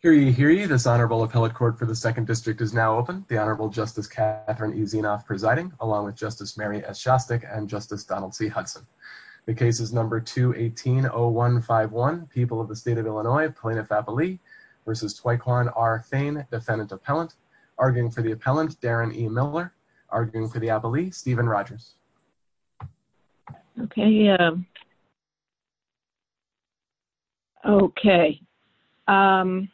Hearing you, hearing you, this Honorable Appellate Court for the 2nd District is now open. The Honorable Justice Catherine E. Zinoff presiding, along with Justice Mary S. Shostak and Justice Donald C. Hudson. The case is No. 2180151, People of the State of Illinois, Plaintiff-Appellee v. Twycon R. Fane, Defendant-Appellant. Arguing for the Appellant, Darren E. Miller. Arguing for the Appellee, Stephen Rogers. Okay, um, okay, um,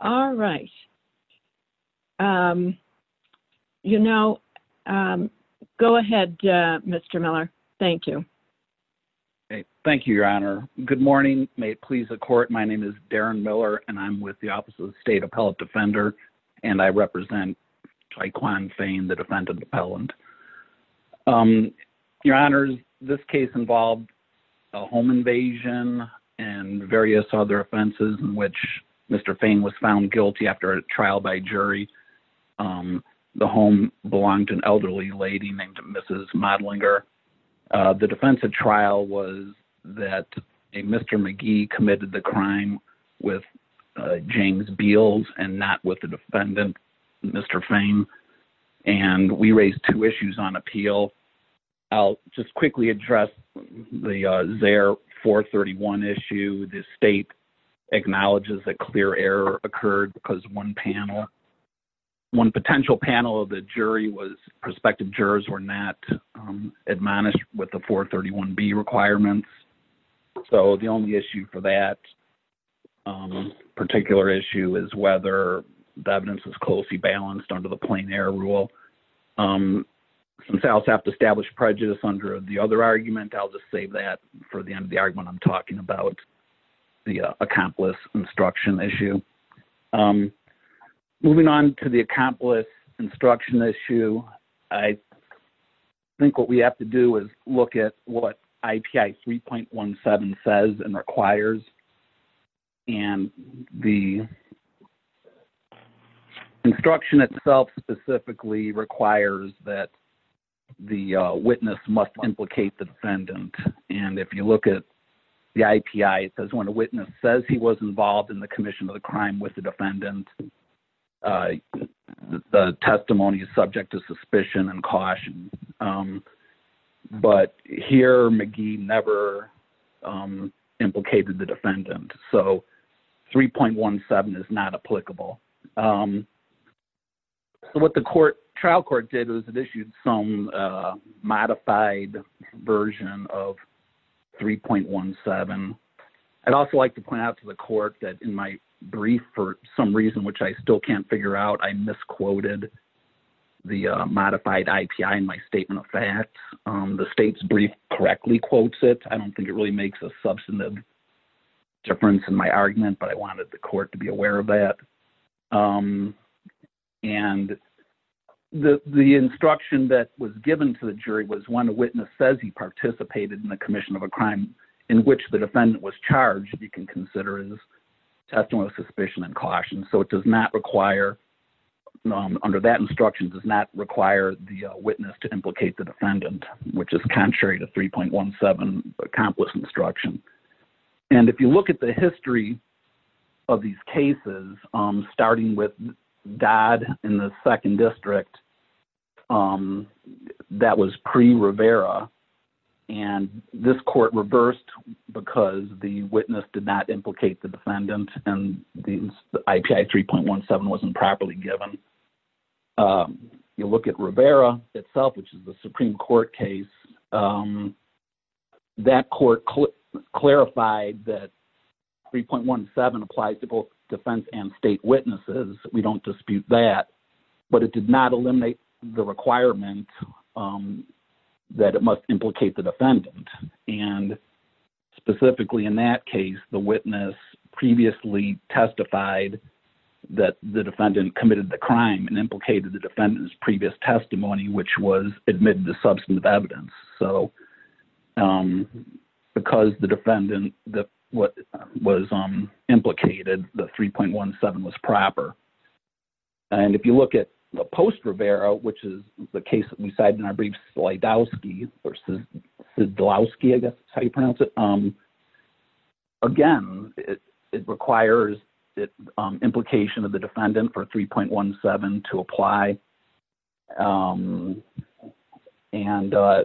all right, um, you know, um, go ahead, uh, Mr. Miller. Thank you. Okay, thank you, Your Honor. Good morning. May it please the Court, my name is Darren Miller and I'm with the Office of the State Appellate Defender, and I represent Twycon Fane, the Defendant-Appellant. Um, Your Honors, this case involved a home invasion and various other offenses in which Mr. Fane was found guilty after a trial by jury. Um, the home belonged to an elderly lady named Mrs. Modlinger. Uh, the defense of trial was that a Mr. McGee committed the crime with, uh, James Beals and not with the defendant, Mr. Fane, and we raised two issues on appeal. I'll just quickly address the, uh, Zaire 431 issue, the state acknowledges that clear error occurred because one panel, one potential panel of the jury was prospective jurors were not, um, admonished with the 431B requirements. So the only issue for that, um, particular issue is whether the evidence is closely balanced under the plain error rule. Um, since I also have to establish prejudice under the other argument, I'll just save that for the end of the argument I'm talking about, the, uh, accomplice instruction issue. Um, moving on to the accomplice instruction issue, I think what we have to do is look at what IPI 3.17 says and requires, and the instruction itself specifically requires that the witness must implicate the defendant. And if you look at the IPI, it says when a witness says he was involved in the commission of the crime with the defendant, uh, the testimony is subject to suspicion and caution. Um, but here McGee never, um, implicated the defendant. So 3.17 is not applicable. Um, so what the court, trial court did was it issued some, uh, modified version of 3.17. I'd also like to point out to the court that in my brief, for some reason, which I still can't figure out, I misquoted the, uh, modified IPI in my statement of facts, um, the state's brief correctly quotes it. I don't think it really makes a substantive difference in my argument, but I wanted the court to be aware of that. Um, and the, the instruction that was given to the jury was one, a witness says he participated in the commission of a crime in which the defendant was charged. You can consider it as testimony of suspicion and caution. So it does not require, um, under that instruction does not require the witness to implicate the defendant, which is contrary to 3.17 accomplice instruction. And if you look at the history of these cases, um, starting with God in the second district, um, that was pre Rivera and this court reversed because the witness did not implicate the defendant and the IPI 3.17 wasn't properly given. Um, you look at Rivera itself, which is the Supreme court case, um, that court clarified that 3.17 applies to both defense and state witnesses. We don't dispute that, but it did not eliminate the requirement, um, that it must implicate the defendant. And specifically in that case, the witness previously testified that the defendant committed the crime and implicated the defendant's previous testimony, which was admitted to substantive evidence. So, um, because the defendant, the, what was, um, implicated the 3.17 was proper. And if you look at the post Rivera, which is the case that we cited in our brief slide out ski versus the law ski, I guess it's how you pronounce it. Um, again, it, it requires it, um, implication of the defendant for 3.17 to apply. Um, and, uh,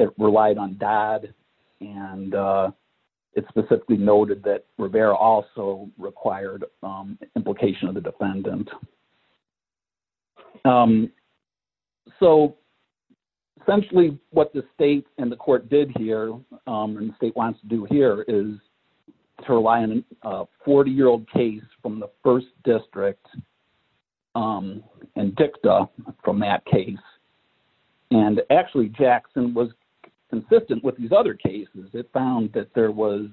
it relied on dad and, uh, it specifically noted that Rivera also required, um, implication of the defendant. Um, so essentially what the state and the court did here, um, and the state wants to do here is to rely on a 40 year old case from the first district, um, and dicta from that case. And actually Jackson was consistent with these other cases. It found that there was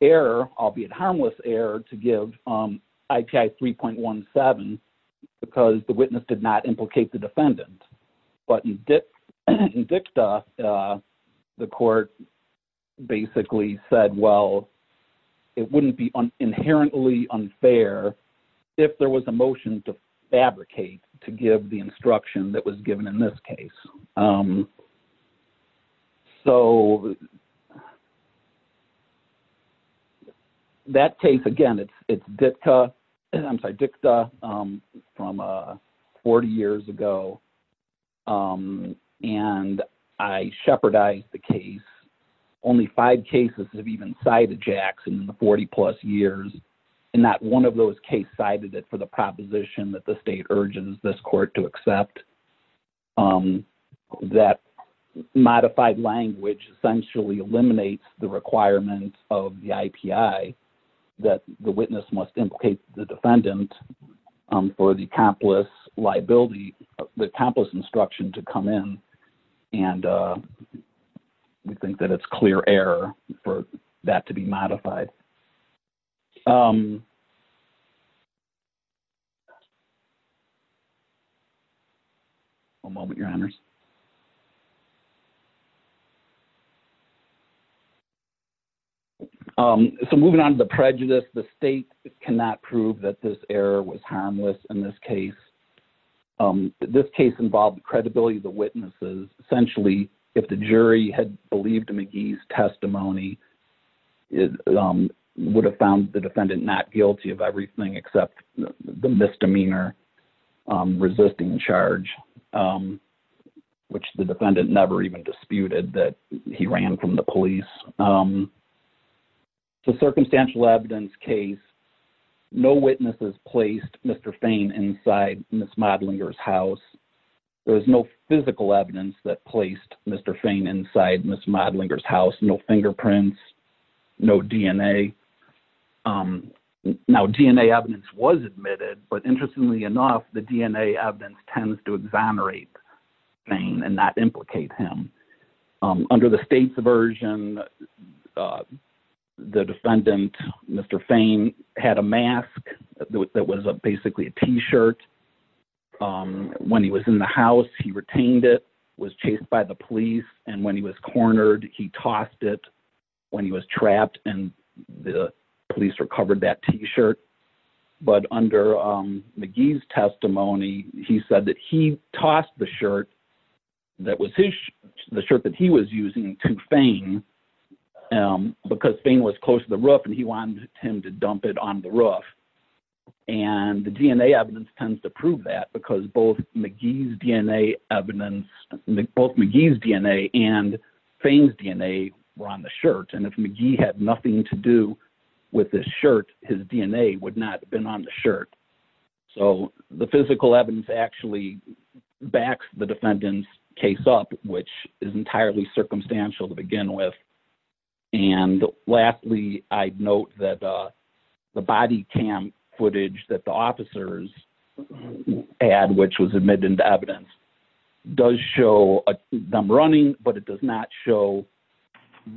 error, albeit harmless error to give, um, IPI 3.17 because the witness did not implicate the defendant. But in dicta, uh, the court basically said, well, it wouldn't be inherently unfair if there was a motion to fabricate, to give the instruction that was given in this case. Um, so that case, again, it's, it's Ditka and I'm sorry, dicta, um, from, uh, 40 years ago. Um, and I shepherdied the case. Only five cases have even cited Jackson in the 40 plus years and not one of those case cited it for the proposition that the state urges this court to accept, um, that modified language essentially eliminates the requirement of the IPI that the witness must implicate the defendant, um, for the capitalist liability, the campus instruction to come in. And, uh, we think that it's clear error for that to be modified. Um, a moment, your honors, um, so moving on to the prejudice, the state cannot prove that this error was harmless in this case. Um, this case involved credibility. The witnesses essentially, if the jury had believed McGee's testimony is, um, would have found the defendant not guilty of everything except the misdemeanor, um, resisting charge, um, which the defendant never even disputed that he ran from the police. Um, the circumstantial evidence case, no witnesses placed Mr. Fain inside Ms. Modlinger's house. There was no physical evidence that placed Mr. Fain inside Ms. Modlinger's house. No fingerprints, no DNA. Um, now DNA evidence was admitted, but interestingly enough, the DNA evidence tends to exonerate Fain and not implicate him. Um, under the state's version, uh, the defendant, Mr. Fain had a mask that was a, basically a t-shirt. Um, when he was in the house, he retained it, was chased by the police. And when he was cornered, he tossed it when he was trapped and the police recovered that t-shirt. But under, um, McGee's testimony, he said that he tossed the shirt that was his, the shirt that he was using to Fain, um, because Fain was close to the roof and he wanted him to dump it on the roof. And the DNA evidence tends to prove that because both McGee's DNA evidence, both McGee's DNA And if McGee had nothing to do with this shirt, his DNA would not have been on the shirt. So the physical evidence actually backs the defendant's case up, which is entirely circumstantial to begin with. And lastly, I'd note that, uh, the body cam footage that the officers add, which was admitted into evidence does show them running, but it does not show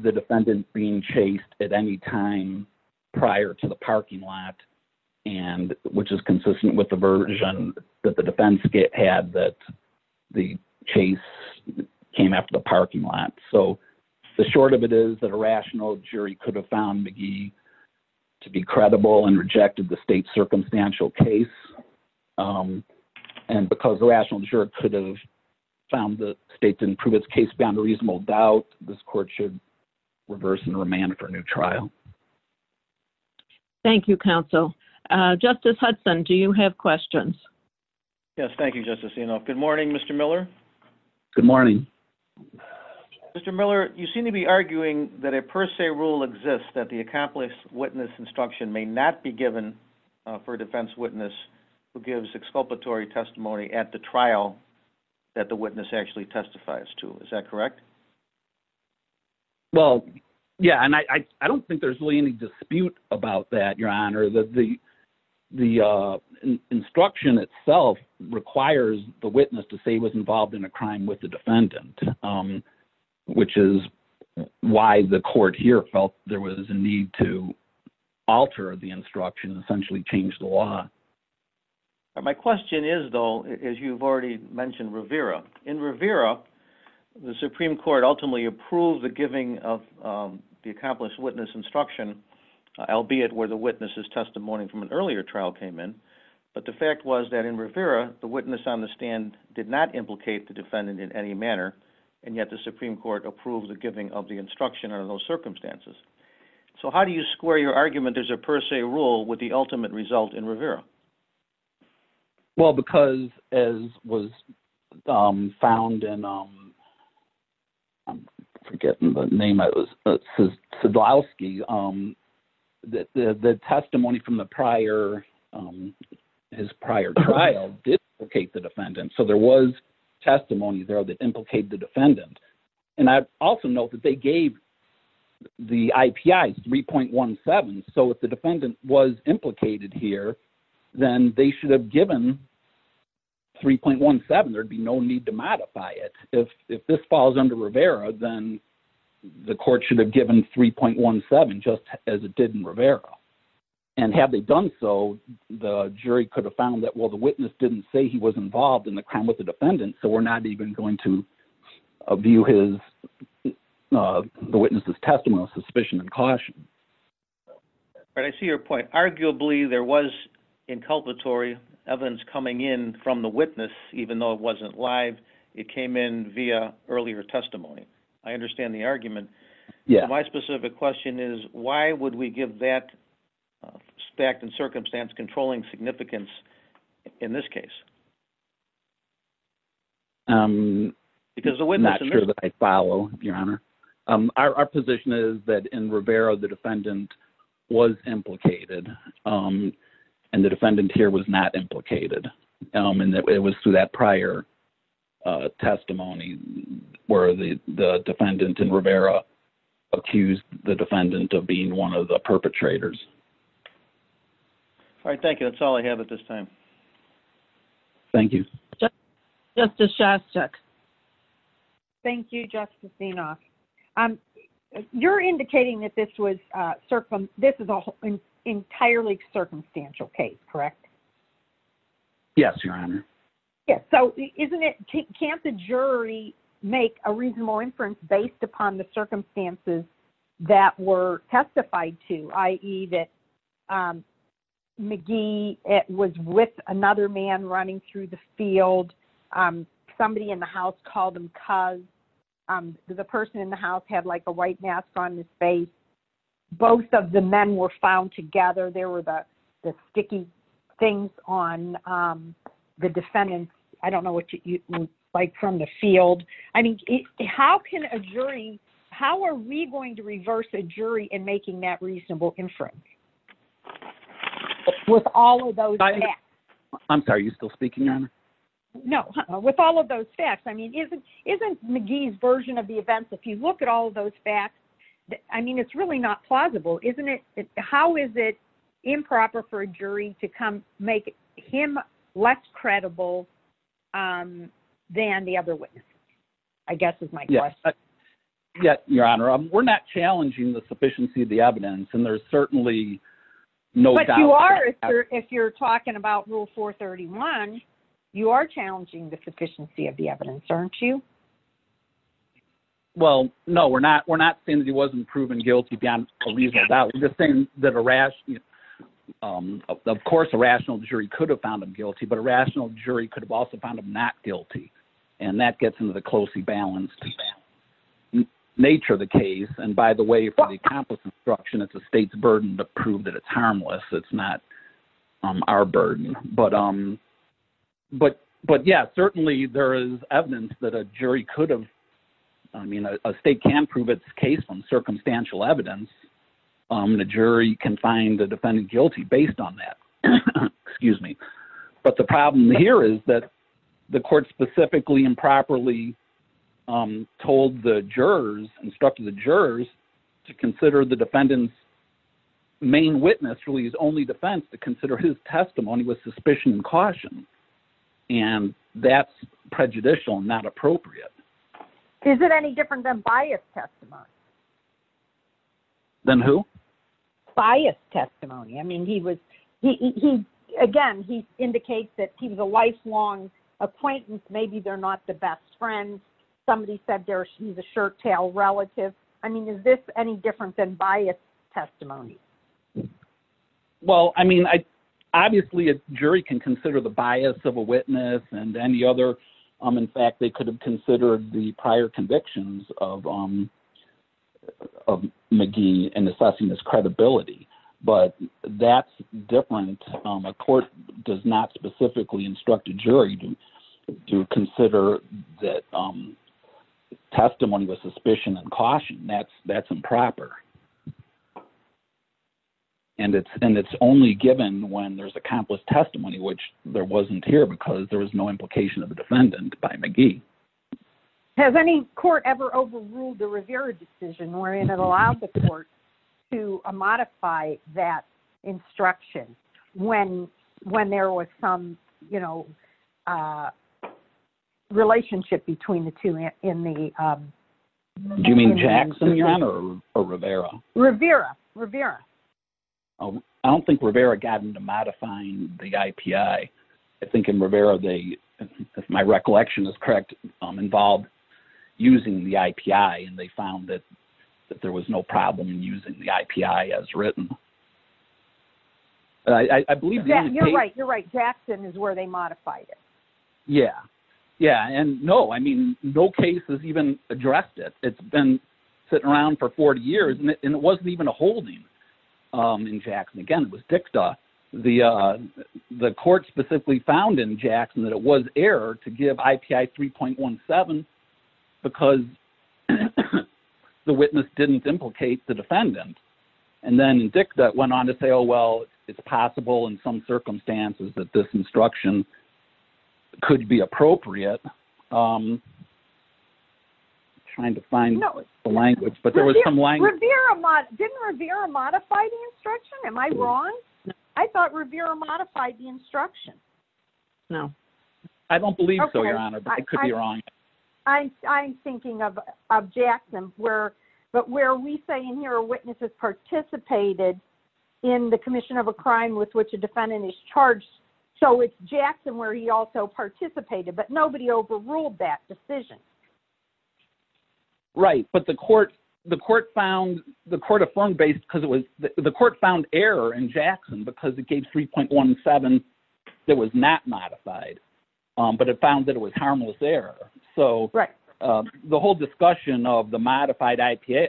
the defendant being chased at any time prior to the parking lot. And which is consistent with the version that the defense had that the chase came after the parking lot. So the short of it is that a rational jury could have found McGee to be credible and a rational juror could have found the state to improve its case beyond a reasonable doubt. This court should reverse and remand it for a new trial. Thank you, counsel. Uh, Justice Hudson, do you have questions? Yes. Thank you, Justice Enoff. Good morning, Mr. Miller. Good morning. Mr. Miller, you seem to be arguing that a per se rule exists that the accomplished witness instruction may not be given for a defense witness who gives exculpatory testimony at the trial that the witness actually testifies to. Is that correct? Well, yeah, and I don't think there's really any dispute about that, Your Honor. The instruction itself requires the witness to say he was involved in a crime with the defendant, which is why the court here felt there was a need to alter the instruction, essentially change the law. My question is, though, as you've already mentioned, Rivera. In Rivera, the Supreme Court ultimately approved the giving of the accomplished witness instruction, albeit where the witness's testimony from an earlier trial came in, but the fact was that in Rivera, the witness on the stand did not implicate the defendant in any manner, and yet the Supreme Court approved the giving of the instruction under those circumstances. So how do you square your argument there's a per se rule with the ultimate result in Rivera? Well, because as was found in, I'm forgetting the name of it, Sadlowski, the testimony from the prior, his prior trial did implicate the defendant, so there was testimony there that implicated the defendant. And I also note that they gave the IPI 3.17, so if the defendant was implicated here, then they should have given 3.17, there'd be no need to modify it. If this falls under Rivera, then the court should have given 3.17 just as it did in Rivera. And had they done so, the jury could have found that, well, the witness didn't say he was involved in the crime with the defendant, so we're not even going to view his, the witness's testimony with suspicion and caution. But I see your point, arguably there was inculpatory evidence coming in from the witness, even though it wasn't live, it came in via earlier testimony. I understand the argument. My specific question is, why would we give that fact and circumstance controlling significance in this case? I'm not sure that I follow, Your Honor. Our position is that in Rivera, the defendant was implicated, and the defendant here was not implicated, and it was through that prior testimony where the defendant in Rivera accused the defendant of being one of the perpetrators. All right, thank you. That's all I have at this time. Thank you. Justice Shastak. Thank you, Justice Inoff. You're indicating that this was, this is an entirely circumstantial case, correct? Yes, Your Honor. Yes. So, isn't it, can't the jury make a reasonable inference based upon the circumstances that were testified to, i.e. that McGee was with another man running through the field, somebody in the house called him cuz, the person in the house had like a white mask on his face, both of the men were found together, there were the sticky things on the defendant, I don't know what you, like from the field. I mean, how can a jury, how are we going to reverse a jury in making that reasonable inference? With all of those facts? I'm sorry, are you still speaking, Your Honor? No, with all of those facts, I mean, isn't McGee's version of the events, if you look at all of those facts, I mean, it's really not plausible, isn't it, how is it improper for a jury to come, make him less credible than the other witnesses? I guess is my question. Yes, Your Honor, we're not challenging the sufficiency of the evidence, and there's certainly no doubt about that. But you are, if you're talking about Rule 431, you are challenging the sufficiency of the evidence, aren't you? Well, no, we're not, we're not saying that he wasn't proven guilty beyond a reasonable doubt, we're just saying that a rational, of course a rational jury could have found him guilty, but a rational jury could have also found him not guilty, and that gets into the closely balanced nature of the case, and by the way, for the accomplice instruction, it's the state's burden to prove that it's harmless, it's not our burden. But, yeah, certainly there is evidence that a jury could have, I mean, a state can prove its case from circumstantial evidence, and a jury can find a defendant guilty based on that. Excuse me. But the problem here is that the court specifically improperly told the jurors, instructed the jurors to consider the defendant's main witness, really his only defense, to consider his testimony with suspicion and caution, and that's prejudicial and not appropriate. Is it any different than bias testimony? Than who? Bias testimony, I mean, he was, he, again, he indicates that he was a lifelong appointment, maybe they're not the best friends, somebody said he's a shirt tail relative, I mean, is this any different than bias testimony? Well, I mean, obviously a jury can consider the bias of a witness and any other, in fact they could have considered the prior convictions of McGee in assessing his credibility, but that's different, a court does not specifically instruct a jury to consider that testimony with suspicion and caution, that's improper. And it's only given when there's accomplished testimony, which there wasn't here because there was no implication of the defendant by McGee. Has any court ever overruled the Rivera decision wherein it allowed the court to modify that instruction when there was some, you know, relationship between the two in the... Do you mean Jackson, your honor, or Rivera? Rivera, Rivera. I don't think Rivera got into modifying the IPI, I think in Rivera they, if my recollection is correct, involved using the IPI and they found that there was no problem in using the IPI as written. I believe... You're right, you're right, Jackson is where they modified it. Yeah, yeah, and no, I mean, no case has even addressed it, it's been sitting around for 40 years and it wasn't even a holding in Jackson, again, it was DICTA. The court specifically found in Jackson that it was error to give IPI 3.17 because the witness didn't implicate the defendant. And then DICTA went on to say, oh, well, it's possible in some circumstances that this instruction could be appropriate. I'm trying to find the language, but there was some language... Didn't Rivera modify the instruction? Am I wrong? I thought Rivera modified the instruction. No. I don't believe so, your honor, but I could be wrong. I'm thinking of Jackson, but where we say in here a witness has participated in the Jackson where he also participated, but nobody overruled that decision. Right, but the court found... The court affirmed based because it was... The court found error in Jackson because it gave 3.17 that was not modified, but it found that it was harmless error. So the whole discussion of the modified IPI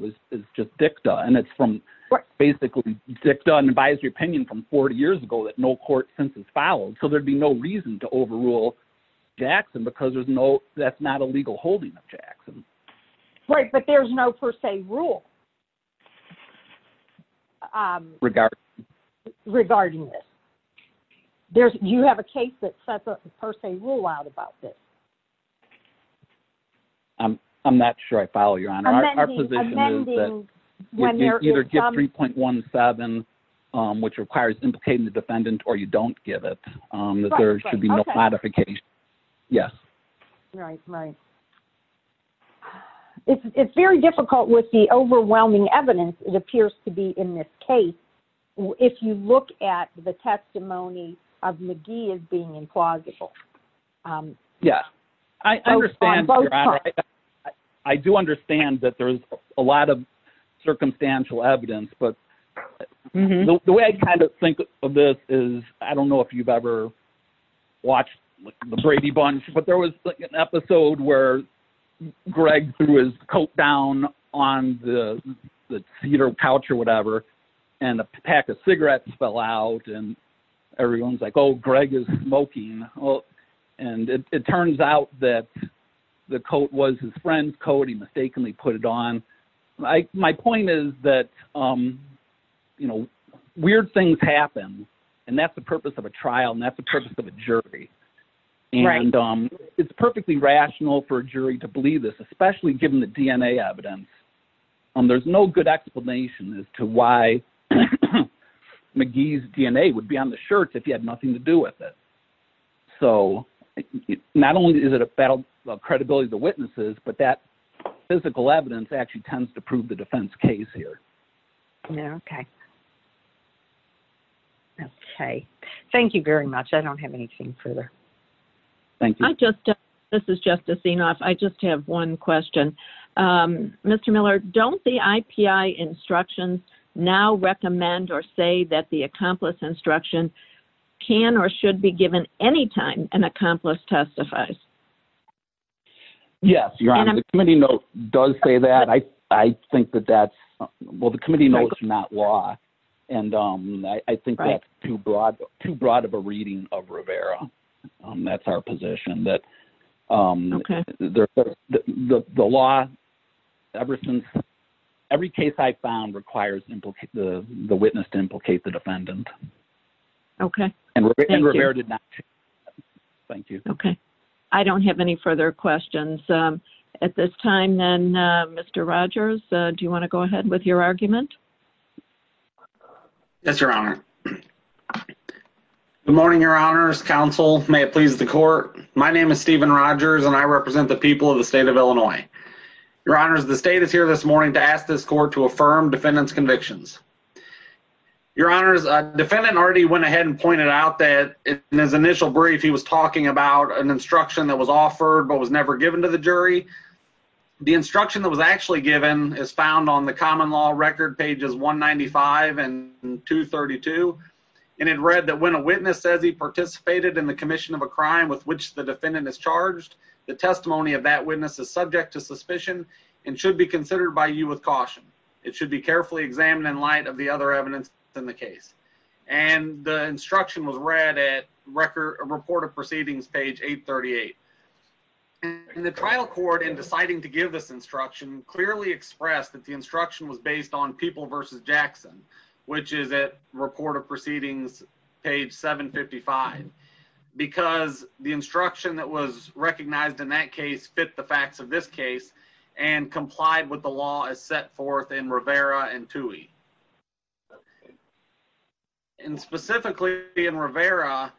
is just DICTA and it's from basically DICTA from an advisory opinion from 40 years ago that no court since has followed. So there'd be no reason to overrule Jackson because there's no... That's not a legal holding of Jackson. Right, but there's no per se rule regarding this. You have a case that sets a per se rule out about this. I'm not sure I follow, your honor. Our position is that you either give 3.17, which requires implicating the defendant, or you don't give it, that there should be no modification. Yes. Right, right. It's very difficult with the overwhelming evidence it appears to be in this case if you look at the testimony of McGee as being implausible. Yeah. I understand, your honor. I do understand that there's a lot of circumstantial evidence, but the way I kind of think of this is, I don't know if you've ever watched the Brady Bunch, but there was like an episode where Greg threw his coat down on the cedar couch or whatever and a pack of cigarettes fell out and everyone's like, oh, Greg is smoking. And it turns out that the coat was his friend's coat. He mistakenly put it on. My point is that weird things happen and that's the purpose of a trial and that's the purpose of a jury. Right. And it's perfectly rational for a jury to believe this, especially given the DNA evidence. There's no good explanation as to why McGee's DNA would be on the shirts if he had nothing to do with it. So, not only is it a battle of credibility of the witnesses, but that physical evidence actually tends to prove the defense case here. Okay. Okay. Thank you very much. I don't have anything further. Thank you. This is Justice Zinoff. I just have one question. Mr. Miller, don't the IPI instructions now recommend or say that the accomplice instruction can or should be given any time an accomplice testifies? Yes, Your Honor. The committee note does say that. I think that that's, well, the committee note is not law. And I think that's too broad of a reading of Rivera. That's our position. Okay. The law, ever since, every case I found requires the witness to implicate the defendant. Okay. And Rivera did not. Thank you. Okay. I don't have any further questions. At this time then, Mr. Rogers, do you want to go ahead with your argument? Yes, Your Honor. Good morning, Your Honors. Counsel, may it please the court. My name is Stephen Rogers, and I represent the people of the state of Illinois. Your Honors, the state is here this morning to ask this court to affirm defendant's convictions. Your Honors, defendant already went ahead and pointed out that in his initial brief, he was talking about an instruction that was offered but was never given to the jury. The instruction that was actually given is found on the common law record pages 195 and 232. And it read that when a witness says he participated in the commission of a crime with which the defendant is charged, the testimony of that witness is subject to suspicion and should be considered by you with caution. It should be carefully examined in light of the other evidence in the case. And the instruction was read at Report of Proceedings, page 838. And the trial court, in deciding to give this instruction, clearly expressed that the instruction was based on People v. Jackson, which is at Report of Proceedings, page 755. Because the instruction that was recognized in that case fit the facts of this case and complied with the law as set forth in Rivera and Toohey. And specifically in Rivera,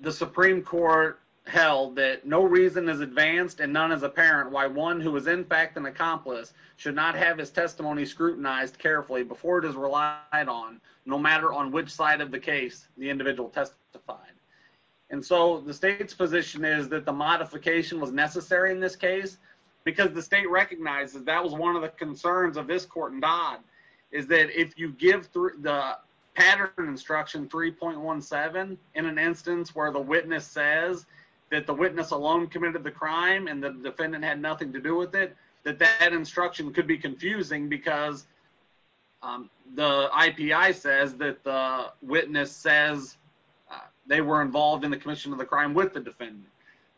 the Supreme Court held that no reason is advanced and none is apparent why one who is in fact an accomplice should not have his testimony scrutinized carefully before it is relied on, no matter on which side of the case the individual testified. And so the state's position is that the modification was necessary in this case because the state recognizes that was one of the concerns of this court in Dodd is that if you give the pattern instruction 3.17 in an instance where the witness says that the witness alone committed the crime and the defendant had nothing to do with it, that that instruction could be confusing because the IPI says that the witness says they were involved in the commission of the crime with the defendant.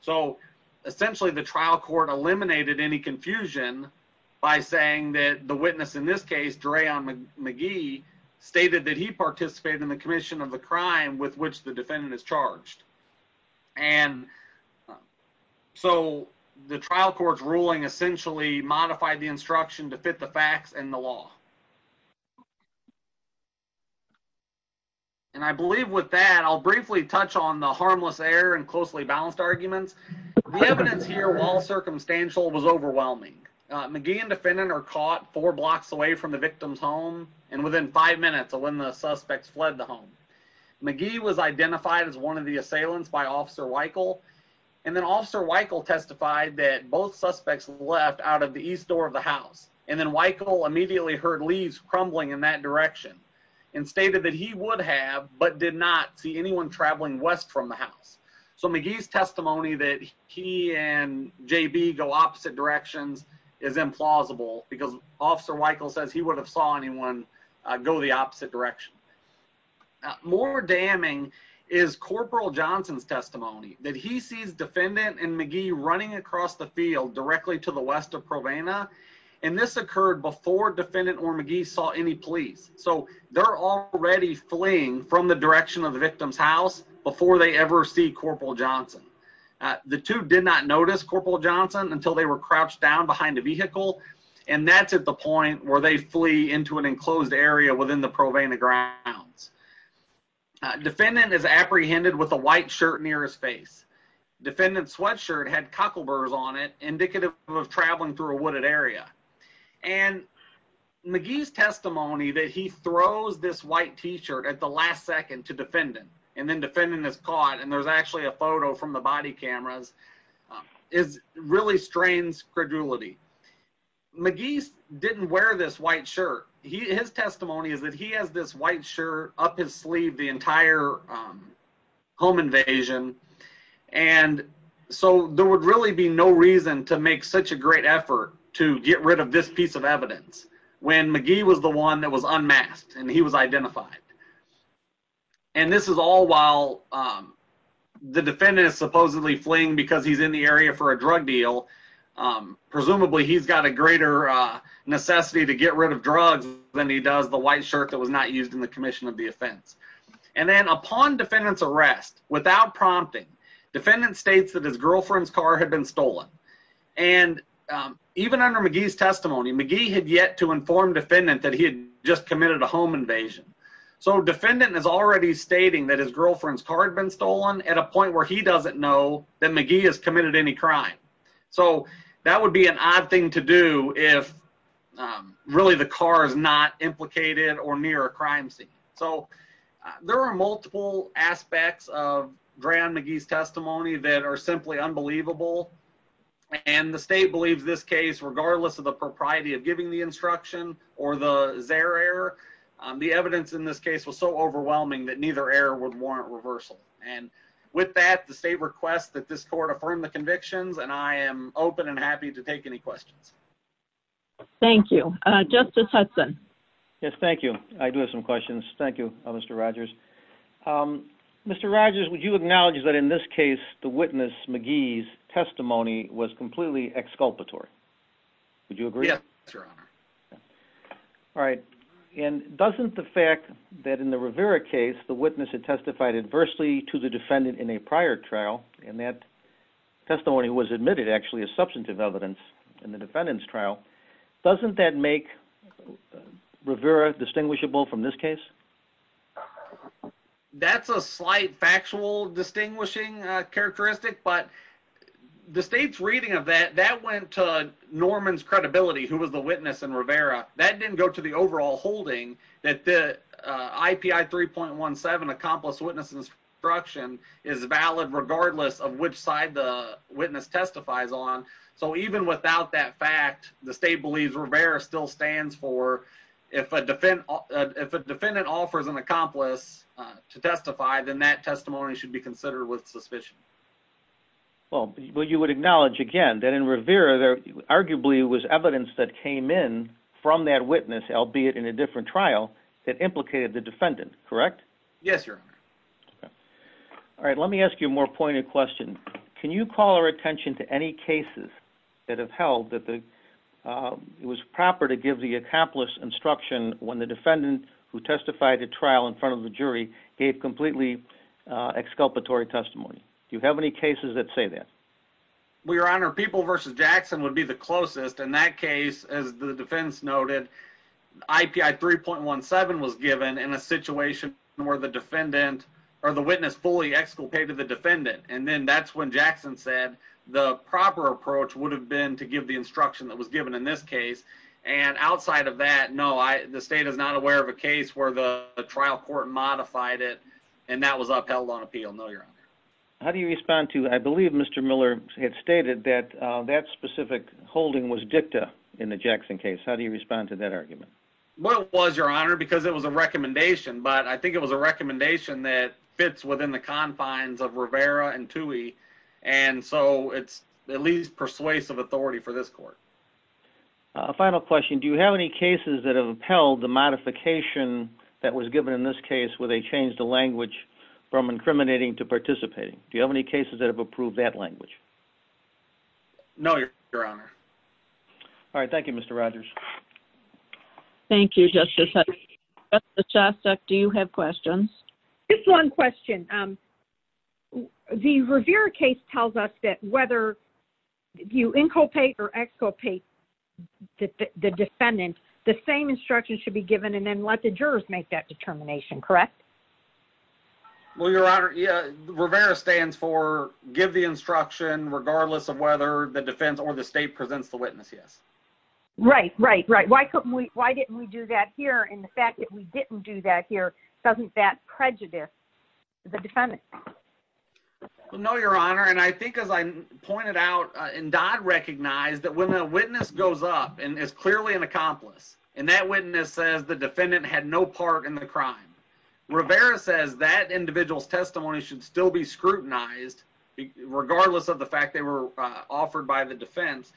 So essentially the trial court eliminated any confusion by saying that the witness in this case, Drayon McGee, stated that he participated in the commission of the crime with which the defendant is charged. And so the trial court's ruling essentially modified the instruction to fit the facts and the law. And I believe with that, I'll briefly touch on the harmless error and closely balanced arguments. The evidence here, while circumstantial, was overwhelming. McGee and defendant are caught four blocks away from the victim's home and within five minutes of when the suspects fled the home. McGee was identified as one of the assailants by Officer Weichel and then Officer Weichel testified that both suspects left out of the east door of the house and then Weichel immediately heard leaves crumbling in that direction and stated that he would have, but did not see anyone traveling west from the house. So McGee's testimony that he and J.B. go opposite directions is implausible because Officer Weichel says he would have saw anyone go the opposite direction. More damning is Corporal Johnson's testimony that he sees defendant and McGee running across the field directly to the west of Provena and this occurred before defendant or McGee saw any police. So they're already fleeing from the direction of the victim's house before they ever see Corporal Johnson. The two did not notice Corporal Johnson until they were crouched down behind a vehicle and that's at the point where they flee into an enclosed area within the Provena grounds. Defendant is apprehended with a white shirt near his face. Defendant's sweatshirt had cuckoos on it indicative of traveling through a wooded area. And McGee's testimony that he throws this white t-shirt at the last second to defendant and then defendant is caught and there's actually a photo from the body cameras really strains credulity. McGee didn't wear this white shirt. His testimony is that he has this white shirt up his sleeve the entire home invasion and so there would really be no reason to make such a great effort to get rid of this piece of evidence when McGee was the one that was unmasked and he was identified. And this is all while the defendant is supposedly fleeing because he's in the area for a drug deal presumably he's got a greater necessity to get rid of drugs than he does the white shirt that was not used in the commission of the offense. And then upon defendant's arrest without prompting, defendant states that his girlfriend's car had been stolen. And even under McGee's testimony McGee had yet to inform defendant that he had just committed a home invasion. So defendant is already stating that his girlfriend's car had been stolen at a point where he doesn't know that McGee has committed any crime. So that would be an odd thing to do if really the car is not implicated or near a crime scene. So there are multiple aspects of D'Aaron McGee's testimony that are simply unbelievable and the state believes this case regardless of the propriety of giving the instruction or the Xer error the evidence in this case was so overwhelming that neither error would warrant reversal. And with that the state requests that this court affirm the convictions and I am open and happy to take any questions. Thank you. Justice Hudson. Yes, thank you. I do have some questions. Thank you, Mr. Rogers. Mr. Rogers, would you acknowledge that in this case the witness, McGee's testimony was completely exculpatory? Would you agree? Yes, your honor. Alright, and doesn't the fact that in the Rivera case the witness had testified adversely to the defendant in a prior trial and that testimony was admitted actually as substantive evidence in the defendant's trial doesn't that make Rivera distinguishable from this case? That's a slight factual distinguishing characteristic but the state's reading of that that went to Norman's credibility who was the witness in Rivera that didn't go to the overall holding that the IPI 3.17 accomplice witness instruction is valid regardless of which side the witness testifies on so even without that fact the state believes Rivera still stands for if a defendant offers an accomplice to testify then that testimony should be considered with suspicion. Well, you would acknowledge again that in Rivera there arguably was evidence that came in from that witness albeit in a different trial that implicated the defendant, correct? Yes, your honor. Alright, let me ask you a more pointed question. Can you call our attention to any cases that have held that it was proper to give the accomplice instruction when the defendant who testified at trial in front of the jury gave completely exculpatory testimony? Do you have any cases that say that? Well, your honor, People v. Jackson would be the closest in that case as the defense noted that IPI 3.17 was given in a situation where the witness fully exculpated the defendant and then that's when Jackson said the proper approach would have been to give the instruction that was given in this case and outside of that, no the state is not aware of a case where the trial court modified it and that was upheld on appeal. No, your honor. How do you respond to, I believe Mr. Miller had stated that that specific holding was dicta in the Jackson case. How do you respond to that argument? Well, it was, your honor, because it was a recommendation, but I think it was a recommendation that fits within the confines of Rivera and Tuohy and so it's persuasive authority for this court. Final question, do you have any cases that have upheld the modification that was given in this case where they changed the language from incriminating to participating? Do you have any cases that have approved that language? No, your honor. All right, thank you, Mr. Rogers. Thank you, Justice Chastok. Do you have questions? Just one question. The Rivera case tells us that whether you inculpate or exculpate the defendant, the same instruction should be given and then let the jurors make that determination, correct? Well, your honor, Rivera stands for give the instruction regardless of whether the defense or the state presents the witness, yes. Right, right, right. Why didn't we do that here and the fact that we didn't do that here, doesn't that prejudice the defendant? No, your honor, and I think as I pointed out and Dodd recognized that when a witness goes up and is clearly an accomplice and that witness says the defendant had no part in the crime, Rivera says that individual's testimony should still be scrutinized regardless of the fact they were offered by the defense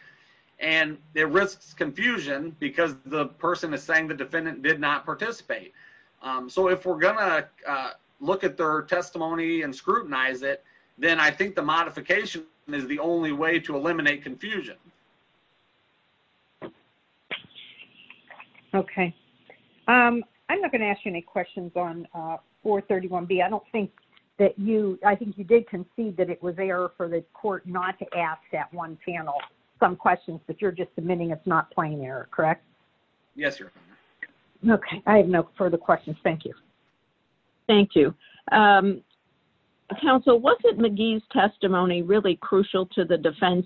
and it risks confusion because the person is saying the defendant did not participate. So if we're going to look at their testimony and scrutinize it, then I think the modification is the only way to eliminate confusion. Okay. I'm not going to ask you any questions on 431B. I don't think that you, I think you did concede that it was error for the court not to ask that one panel some questions but you're just admitting it's not plain error, correct? Yes, your honor. Okay, I have no further questions. Thank you. Thank you. Counsel, wasn't McGee's testimony really crucial to the defense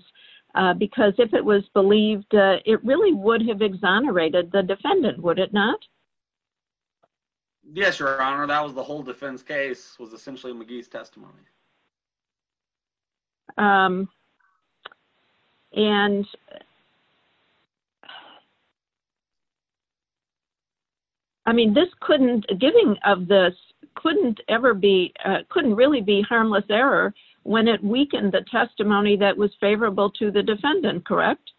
because if it was believed, it really would have exonerated the defendant, would it not? Yes, your honor, that was the whole defense case was essentially McGee's testimony. And I mean this couldn't, giving of this couldn't ever be, couldn't really be harmless error when it weakened the testimony that was favorable to the defendant, correct?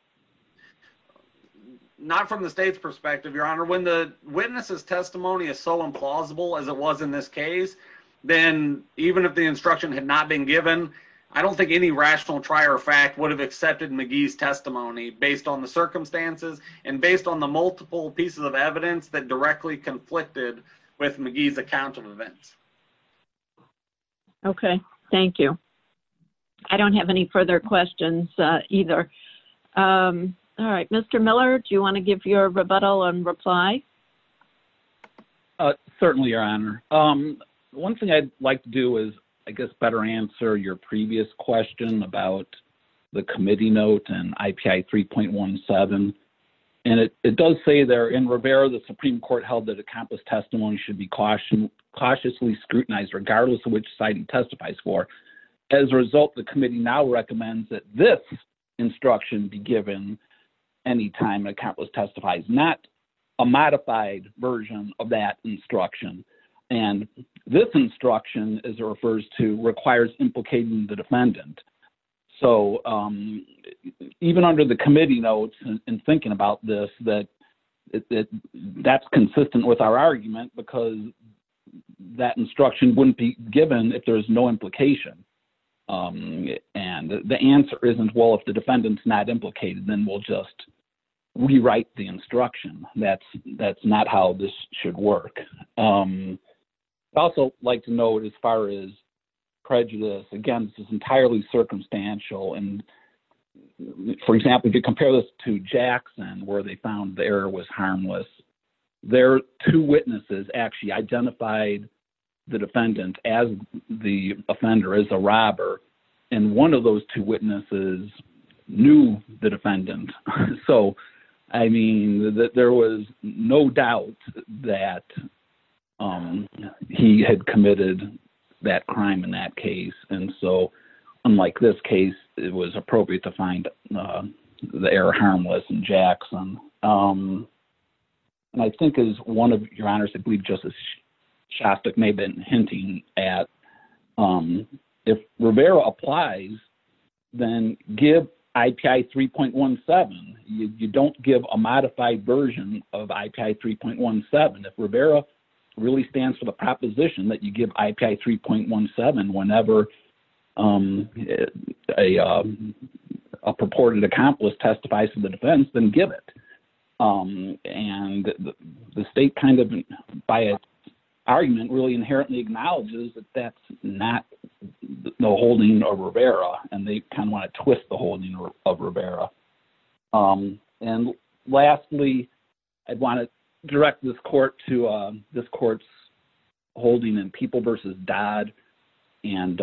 Not from the state's perspective, your honor. When the witness's testimony is so implausible as it was in this case, then even if the instruction had not been given, I don't think any rational try or fact would have accepted McGee's testimony based on the circumstances and based on the multiple pieces of evidence that directly conflicted with McGee's account of events. Okay. Thank you. I don't have any further questions either. Mr. Miller, do you want to give your rebuttal and reply? Certainly, your honor. One thing I'd like to do is I guess better answer your previous question about the committee note and IPI 3.17 and it does say there in Rivera the Supreme Court held that a countless testimony should be cautiously scrutinized regardless of which side it testifies for. As a result, the committee now recommends that this instruction be given any time a countless testifies not a modified version of that instruction and this instruction as it refers to requires implicating the defendant. So even under the committee notes in thinking about this that's consistent with our argument because that instruction wouldn't be given if there's no implication and the answer isn't well, if the defendant's not implicated then we'll just rewrite the instruction. That's not how this should work. I'd also like to note as far as prejudice again, this is entirely circumstantial and for example, if you compare this to Jackson where they found the error was harmless their two witnesses actually identified the defendant as the offender, as a robber and one of those two witnesses knew the defendant so I mean there was no doubt that he had committed that crime in that case and so unlike this case it was appropriate to find the error harmless in Jackson and I think as one of your honors, I believe Justice Shostak may have been hinting at if Rivera applies then give IPI 3.17 you don't give a modified version of IPI 3.17 if Rivera really stands for the proposition that you give IPI 3.17 whenever a purported accomplice testifies to the defense, then give it and the state kind of by its argument really inherently acknowledges that that's no holding of Rivera and they kind of want to twist the holding of Rivera and lastly I'd want to direct this court to this court's holding in People v. Dodd and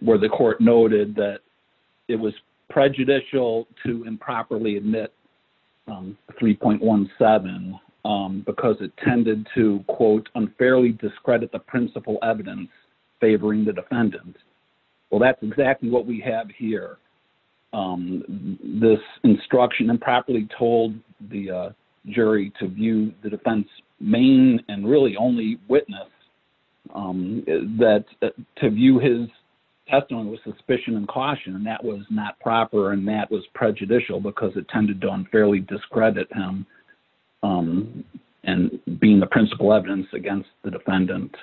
where the court noted that it was prejudicial to improperly admit 3.17 because it tended to unfairly discredit the principal evidence favoring the defendant well that's exactly what we have here this instruction improperly told the jury to view the defense main and really only witness that to view his testimony with suspicion and caution and that was not proper and that was prejudicial because it tended to unfairly discredit him and being the principal evidence against the defendant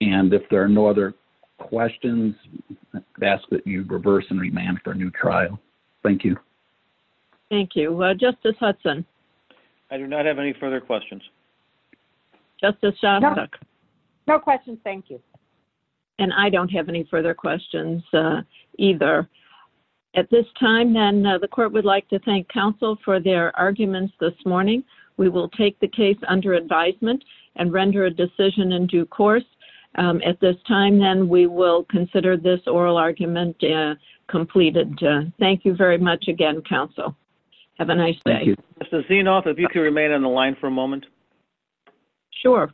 and if there are no other questions I'd ask that you reverse and remand for a new trial thank you thank you, Justice Hudson I do not have any further questions Justice Shostak no questions thank you and I don't have any further questions either at this time then the court would like to thank counsel for their arguments this morning we will take the case under advisement and render a decision in due course at this time then we will consider this oral argument completed thank you very much again counsel have a nice day if you could remain on the line for a moment sure